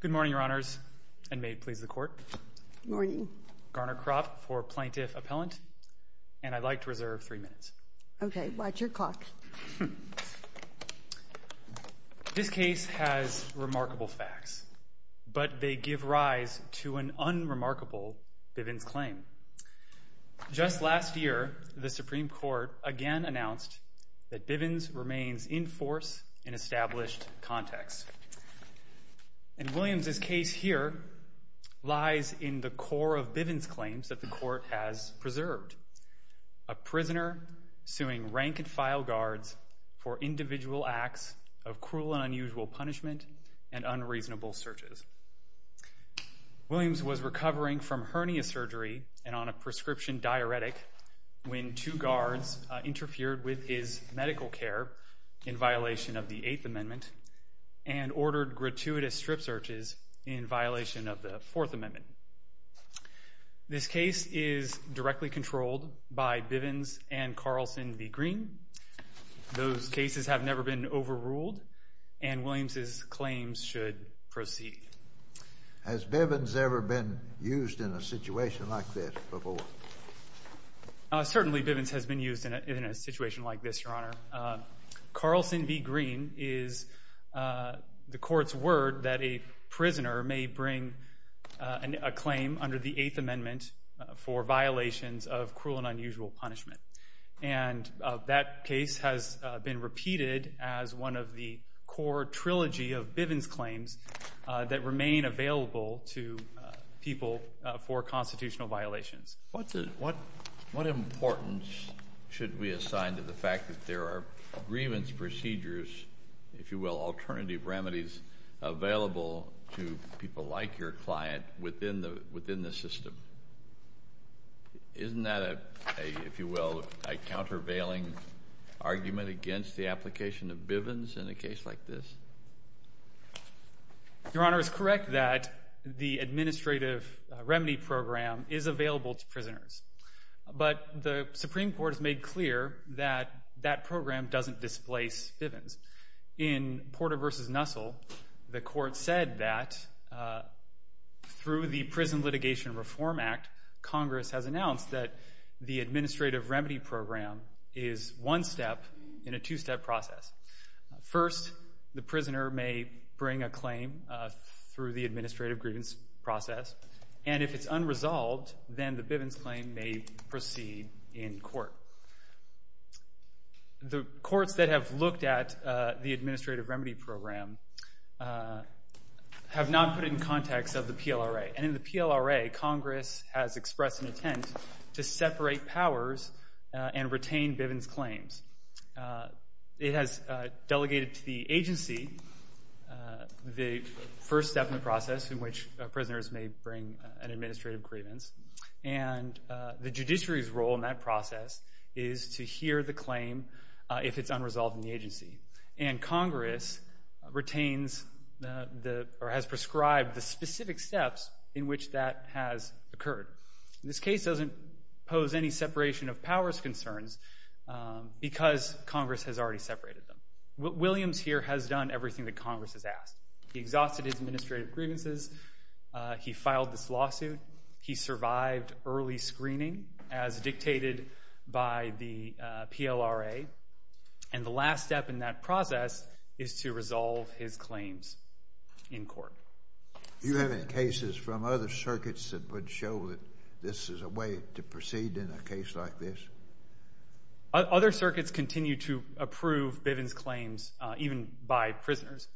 Good morning, Your Honors, and may it please the Court. Good morning. Garner Kropp for Plaintiff Appellant, and I'd like to reserve three minutes. Okay, watch your clock. This case has remarkable facts, but they give rise to an unremarkable Bivens claim. Just last year, the Supreme Court again announced that Bivens remains in force in established context. And Williams' case here lies in the core of Bivens' claims that the Court has preserved, a prisoner suing rank-and-file guards for individual acts of cruel and unusual punishment and unreasonable searches. Williams was recovering from hernia surgery and on a prescription diuretic when two guards interfered with his medical care in violation of the Eighth Amendment and ordered gratuitous strip searches in violation of the Fourth Amendment. This case is directly controlled by Bivens and Carlson v. Green. Those cases have never been overruled, and Williams' claims should proceed. Has Bivens ever been used in a situation like this before? Certainly, Bivens has been used in a situation like this, Your Honor. Carlson v. Green is the Court's word that a prisoner may bring a claim under the Eighth Amendment for violations of cruel and unusual punishment. And that case has been repeated as one of the core trilogy of Bivens claims that remain available to people for constitutional violations. What importance should we assign to the fact that there are grievance procedures, if you will, alternative remedies available to people like your client within the system? Isn't that a, if you will, a countervailing argument against the application of Bivens in a case like this? Your Honor is correct that the administrative remedy program is available to prisoners. But the Supreme Court has made clear that that program doesn't displace Bivens. In Porter v. Nussel, the Court said that through the Prison Litigation Reform Act, Congress has announced that the administrative remedy program is one step in a two-step process. First, the prisoner may bring a claim through the administrative grievance process. And if it's unresolved, then the Bivens claim may proceed in court. The courts that have looked at the administrative remedy program have not put it in context of the PLRA. And in the PLRA, Congress has expressed an intent to separate powers and retain Bivens claims. It has delegated to the agency the first step in the process in which prisoners may bring an administrative grievance. And the judiciary's role in that process is to hear the claim if it's unresolved in the agency. And Congress retains or has prescribed the specific steps in which that has occurred. This case doesn't pose any separation of powers concerns because Congress has already separated them. Williams here has done everything that Congress has asked. He exhausted his administrative grievances. He filed this lawsuit. He survived early screening as dictated by the PLRA. And the last step in that process is to resolve his claims in court. Do you have any cases from other circuits that would show that this is a way to proceed in a case like this? Other circuits continue to approve Bivens claims even by prisoners.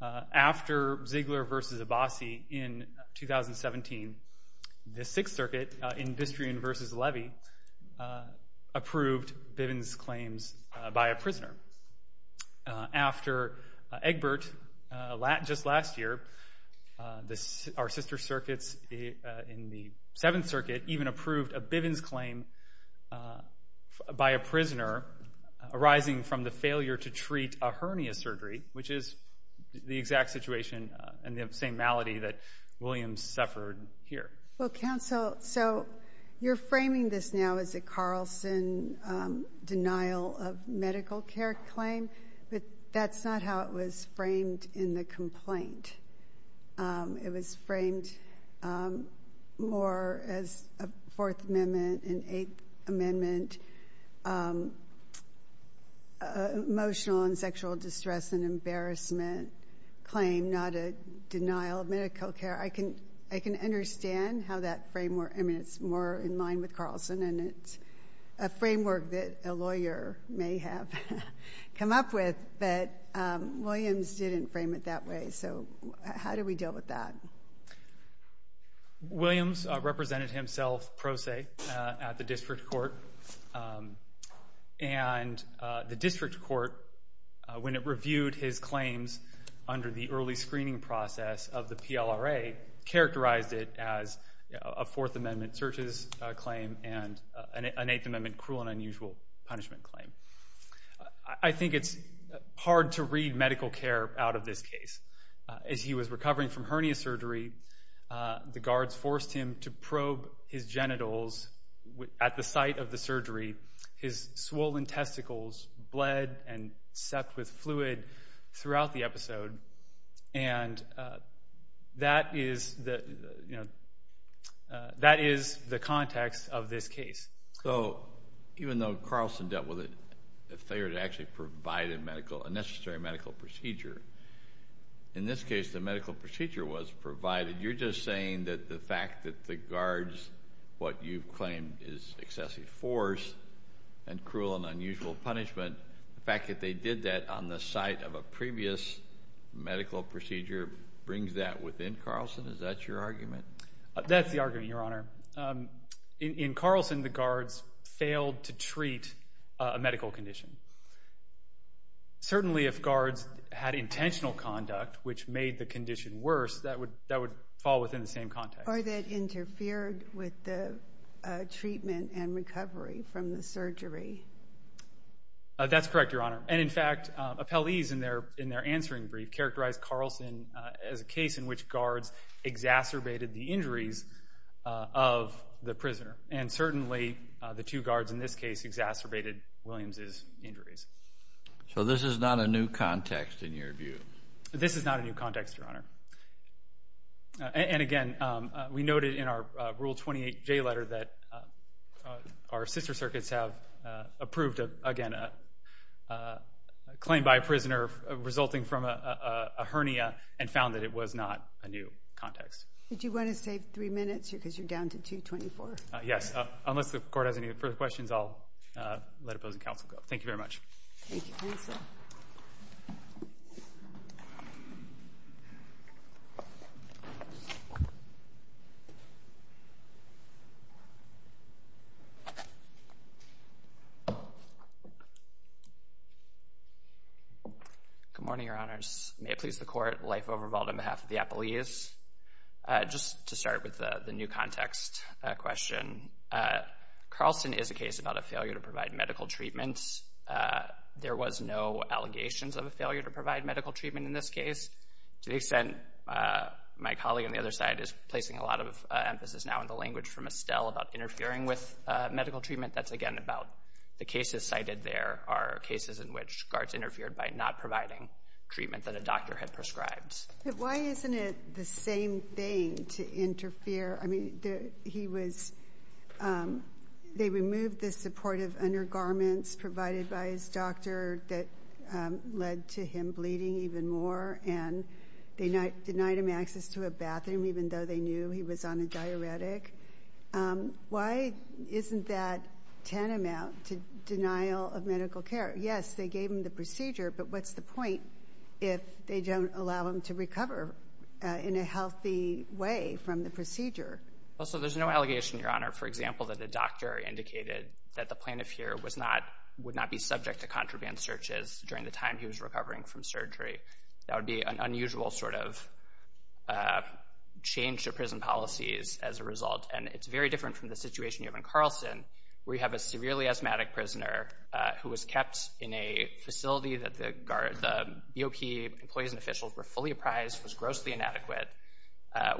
After Ziegler v. Abbasi in 2017, the Sixth Circuit, in Bistrian v. Levy, approved Bivens claims by a prisoner. After Egbert, just last year, our sister circuits in the Seventh Circuit even approved a Bivens claim by a prisoner arising from the failure to treat a hernia surgery, which is the exact situation and the same malady that Williams suffered here. Well, counsel, so you're framing this now as a Carlson denial of medical care claim, but that's not how it was framed in the complaint. It was framed more as a Fourth Amendment and Eighth Amendment emotional and sexual distress and embarrassment claim, not a denial of medical care. I can understand how that framework, I mean, it's more in line with Carlson, and it's a framework that a lawyer may have come up with, but Williams didn't frame it that way, so how do we deal with that? Williams represented himself pro se at the district court, and the district court, when it reviewed his claims under the early screening process of the PLRA, characterized it as a Fourth Amendment searches claim and an Eighth Amendment cruel and unusual punishment claim. I think it's hard to read medical care out of this case. As he was recovering from hernia surgery, the guards forced him to probe his genitals at the site of the surgery. His swollen testicles bled and sept with fluid throughout the episode, and that is the context of this case. So even though Carlson dealt with it, if they were to actually provide a necessary medical procedure, in this case, the medical procedure was provided. You're just saying that the fact that the guards, what you've claimed is excessive force and cruel and unusual punishment, the fact that they did that on the site of a previous medical procedure brings that within Carlson? Is that your argument? That's the argument, Your Honor. In Carlson, the guards failed to treat a medical condition. Certainly, if guards had intentional conduct, which made the condition worse, that would fall within the same context. Or that interfered with the treatment and recovery from the surgery. That's correct, Your Honor. And in fact, appellees in their answering brief characterized Carlson as a case in which guards exacerbated the injuries of the prisoner. And certainly, the two guards in this case exacerbated Williams' injuries. So this is not a new context in your view? This is not a new context, Your Honor. And again, we noted in our Rule 28J letter that our sister circuits have approved, again, a claim by a prisoner resulting from a hernia and found that it was not a new context. Did you want to save three minutes because you're down to 2.24? Yes. Unless the Court has any further questions, I'll let opposing counsel go. Thank you very much. Thank you, counsel. Thank you. Good morning, Your Honors. May it please the Court, life overvault on behalf of the appellees. Just to start with the new context question, Carlson is a case about a failure to provide medical treatment. There was no allegations of a failure to provide medical treatment in this case. To the extent my colleague on the other side is placing a lot of emphasis now in the language from Estelle about interfering with medical treatment, that's, again, about the cases cited there are cases in which guards interfered by not providing treatment that a doctor had prescribed. But why isn't it the same thing to interfere? I mean, he was they removed the supportive undergarments provided by his doctor that led to him bleeding even more, and they denied him access to a bathroom, even though they knew he was on a diuretic. Why isn't that tantamount to denial of medical care? Yes, they gave him the procedure, but what's the point if they don't allow him to recover in a healthy way from the procedure? Well, so there's no allegation, Your Honor, for example, that the doctor indicated that the plaintiff here would not be subject to contraband searches during the time he was recovering from surgery. That would be an unusual sort of change to prison policies as a result, and it's very different from the situation you have in Carlson, where you have a severely asthmatic prisoner who was kept in a facility that the BOP employees and officials were fully apprised was grossly inadequate.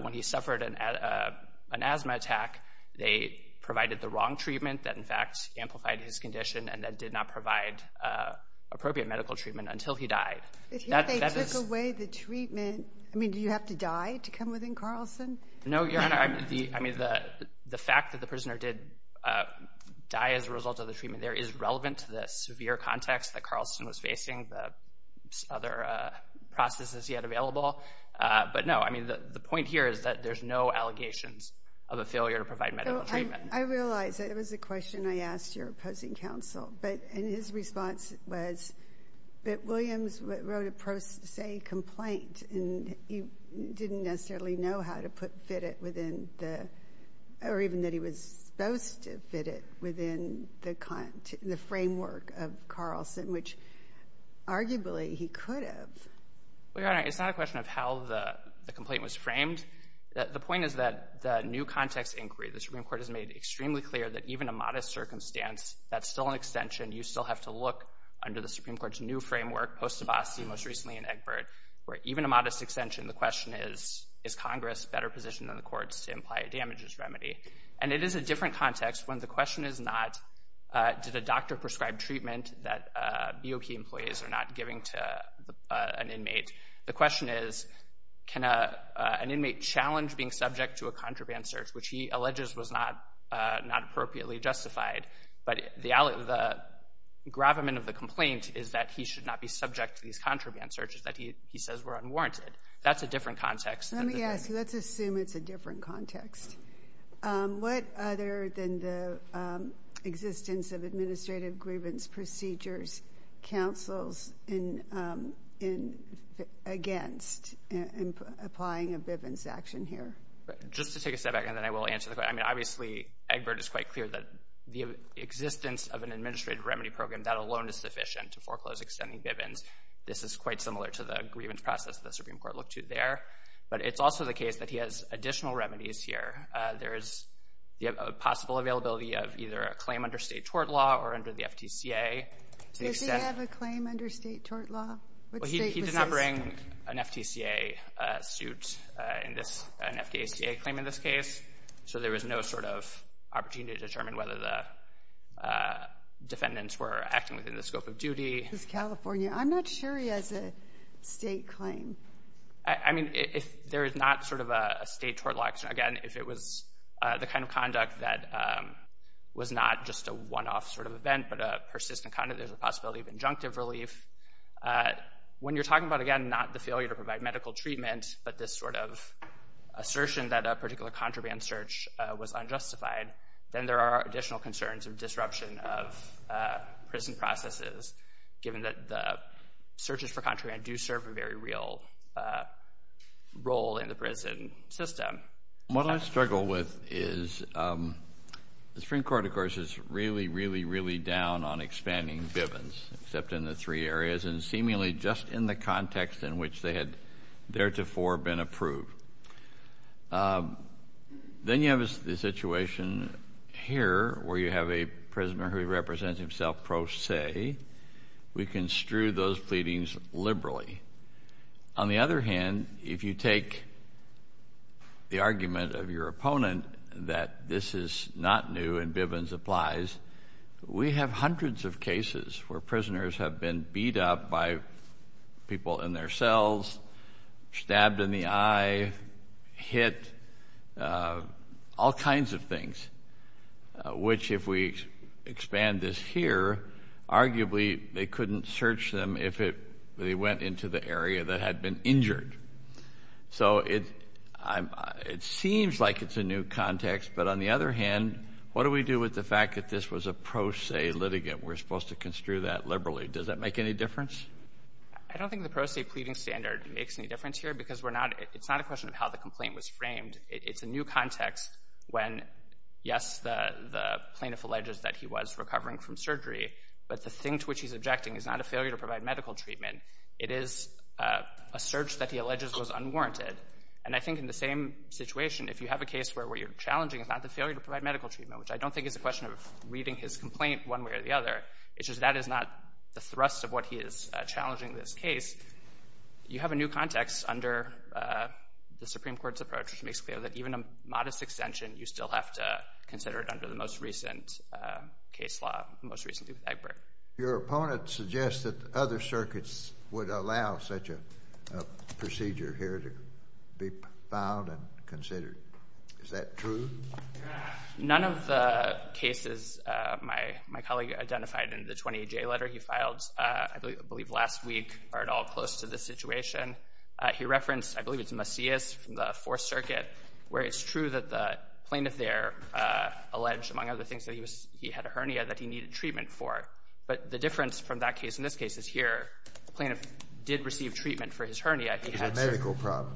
When he suffered an asthma attack, they provided the wrong treatment that, in fact, amplified his condition and then did not provide appropriate medical treatment until he died. If they took away the treatment, I mean, do you have to die to come within Carlson? No, Your Honor. I mean, the fact that the prisoner did die as a result of the treatment there is relevant to the severe context that Carlson was facing, the other processes he had available. But, no, I mean, the point here is that there's no allegations of a failure to provide medical treatment. I realize that it was a question I asked your opposing counsel, and his response was that Williams wrote a pro se complaint and he didn't necessarily know how to fit it within the or even that he was supposed to fit it within the framework of Carlson, which arguably he could have. Well, Your Honor, it's not a question of how the complaint was framed. The point is that the new context inquiry, the Supreme Court has made extremely clear that even a modest circumstance that's still an extension, you still have to look under the Supreme Court's new framework, post-Abbasi, most recently in Egbert, where even a modest extension, the question is, is Congress better positioned than the courts to imply a damages remedy? And it is a different context when the question is not, did a doctor prescribe treatment that BOP employees are not giving to an inmate? The question is, can an inmate challenge being subject to a contraband search, which he alleges was not appropriately justified, but the gravamen of the complaint is that he should not be subject to these contraband searches that he says were unwarranted. That's a different context. Let me ask you, let's assume it's a different context. What other than the existence of administrative grievance procedures counsels against applying a Bivens action here? Just to take a step back, and then I will answer the question. I mean, obviously, Egbert is quite clear that the existence of an administrative remedy program, that alone is sufficient to foreclose extending Bivens. This is quite similar to the grievance process the Supreme Court looked to there. But it's also the case that he has additional remedies here. There is the possible availability of either a claim under state tort law or under the FTCA. Does he have a claim under state tort law? He did not bring an FTCA suit in this, an FDACA claim in this case. So there was no sort of opportunity to determine whether the defendants were acting within the scope of duty. California. I'm not sure he has a state claim. I mean, if there is not sort of a state tort law, again, if it was the kind of conduct that was not just a one-off sort of event, but a persistent conduct, there's a possibility of injunctive relief. When you're talking about, again, not the failure to provide medical treatment, but this sort of assertion that a particular contraband search was unjustified, then there are additional concerns of disruption of prison processes, given that the searches for contraband do serve a very real role in the prison system. What I struggle with is the Supreme Court, of course, is really, really, really down on expanding Bivens, except in the three areas and seemingly just in the context in which they had theretofore been approved. Then you have the situation here where you have a prisoner who represents himself pro se. We construe those pleadings liberally. On the other hand, if you take the argument of your opponent that this is not new and Bivens applies, we have hundreds of cases where prisoners have been beat up by people in their cells, stabbed in the eye, hit, all kinds of things, which if we expand this here, arguably they couldn't search them if they went into the area that had been injured. So it seems like it's a new context. But on the other hand, what do we do with the fact that this was a pro se litigant? We're supposed to construe that liberally. Does that make any difference? I don't think the pro se pleading standard makes any difference here because it's not a question of how the complaint was framed. It's a new context when, yes, the plaintiff alleges that he was recovering from surgery, but the thing to which he's objecting is not a failure to provide medical treatment. It is a search that he alleges was unwarranted. And I think in the same situation, if you have a case where what you're challenging is not the failure to provide medical treatment, which I don't think is a question of reading his complaint one way or the other, it's just that is not the thrust of what he is challenging in this case, you have a new context under the Supreme Court's approach, which makes clear that even a modest extension, you still have to consider it under the most recent case law, most recently with Egbert. Your opponent suggests that other circuits would allow such a procedure here to be filed and considered. Is that true? None of the cases my colleague identified in the 28J letter he filed, I believe last week, are at all close to this situation. He referenced, I believe it's Macias from the Fourth Circuit, where it's true that the plaintiff there alleged, among other things, that he had a hernia that he needed treatment for. But the difference from that case and this case is here, the plaintiff did receive treatment for his hernia. It was a medical problem.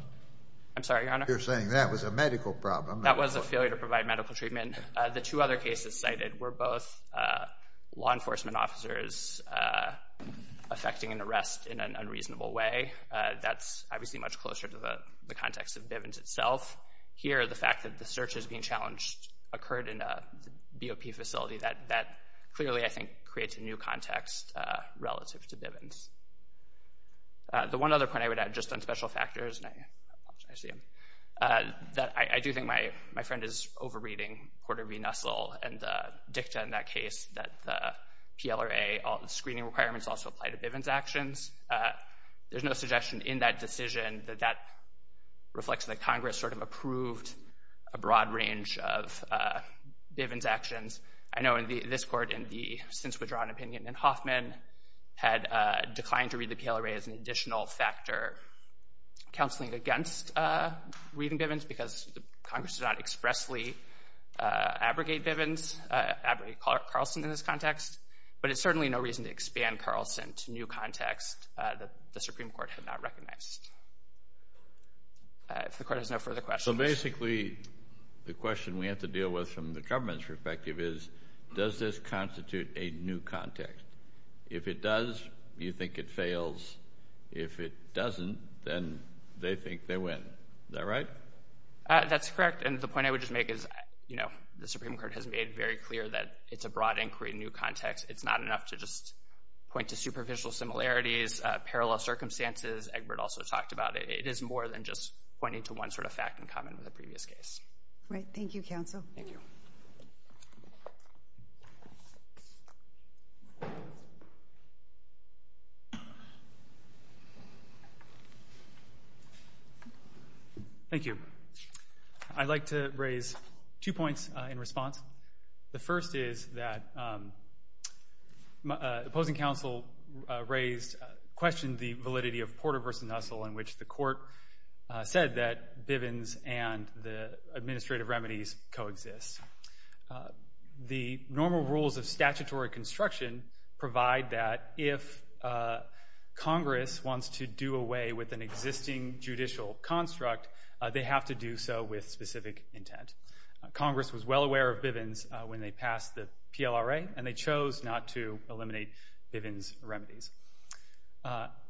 I'm sorry, Your Honor? You're saying that was a medical problem. That was a failure to provide medical treatment. The two other cases cited were both law enforcement officers affecting an arrest in an unreasonable way. That's obviously much closer to the context of Bivens itself. Here, the fact that the search is being challenged occurred in a BOP facility, that clearly, I think, creates a new context relative to Bivens. The one other point I would add, just on special factors, and I see him, that I do think my friend is over-reading Porter v. Nussel and the dicta in that case, that the PLRA screening requirements also apply to Bivens' actions. There's no suggestion in that decision that that reflects that Congress sort of approved a broad range of Bivens' actions. I know this Court in the since-withdrawn opinion in Hoffman had declined to read the PLRA as an additional factor counseling against reading Bivens because Congress did not expressly abrogate Bivens, abrogate Carlson in this context, but it's certainly no reason to expand Carlson to new context that the Supreme Court had not recognized. If the Court has no further questions. So basically, the question we have to deal with from the government's perspective is does this constitute a new context? If it does, you think it fails. If it doesn't, then they think they win. Is that right? That's correct, and the point I would just make is, you know, the Supreme Court has made very clear that it's a broad inquiry in new context. It's not enough to just point to superficial similarities, parallel circumstances. Egbert also talked about it. It is more than just pointing to one sort of fact in common with the previous case. All right. Thank you, Counsel. Thank you. Thank you. I'd like to raise two points in response. The first is that opposing counsel raised, questioned the validity of Porter v. Nussel in which the Court said that Bivens and the administrative remedies coexist. The normal rules of statutory construction provide that if Congress wants to do away with an existing judicial construct, they have to do so with specific intent. Congress was well aware of Bivens when they passed the PLRA, and they chose not to eliminate Bivens remedies.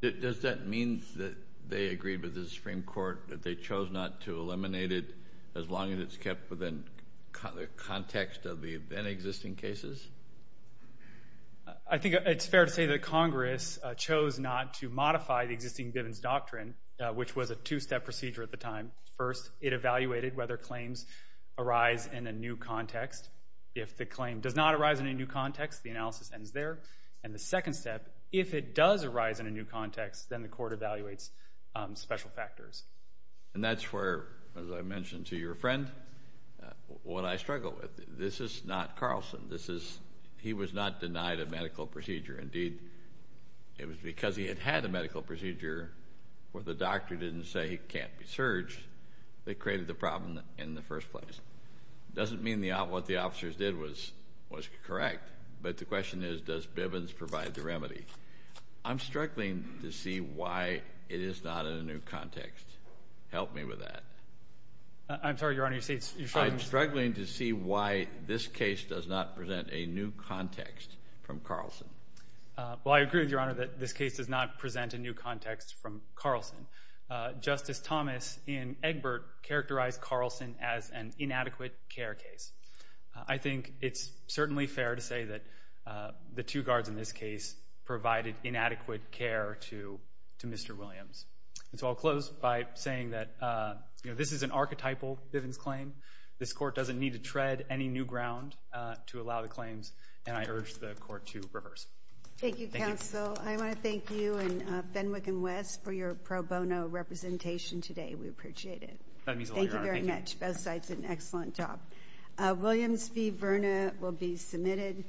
Does that mean that they agreed with the Supreme Court that they chose not to eliminate it as long as it's kept within the context of the then-existing cases? I think it's fair to say that Congress chose not to modify the existing Bivens doctrine, which was a two-step procedure at the time. First, it evaluated whether claims arise in a new context. If the claim does not arise in a new context, the analysis ends there. And the second step, if it does arise in a new context, then the Court evaluates special factors. And that's where, as I mentioned to your friend, what I struggle with. This is not Carlson. He was not denied a medical procedure. Indeed, it was because he had had a medical procedure where the doctor didn't say he can't be surged that created the problem in the first place. It doesn't mean what the officers did was correct, but the question is, does Bivens provide the remedy? I'm struggling to see why it is not in a new context. Help me with that. I'm sorry, Your Honor. I'm struggling to see why this case does not present a new context from Carlson. Well, I agree with you, Your Honor, that this case does not present a new context from Carlson. Justice Thomas in Egbert characterized Carlson as an inadequate care case. I think it's certainly fair to say that the two guards in this case provided inadequate care to Mr. Williams. So I'll close by saying that this is an archetypal Bivens claim. This Court doesn't need to tread any new ground to allow the claims, and I urge the Court to reverse. Thank you, counsel. I want to thank you and Fenwick and West for your pro bono representation today. We appreciate it. That means a lot, Your Honor. Thank you very much. Both sides did an excellent job. Williams v. Verna will be submitted.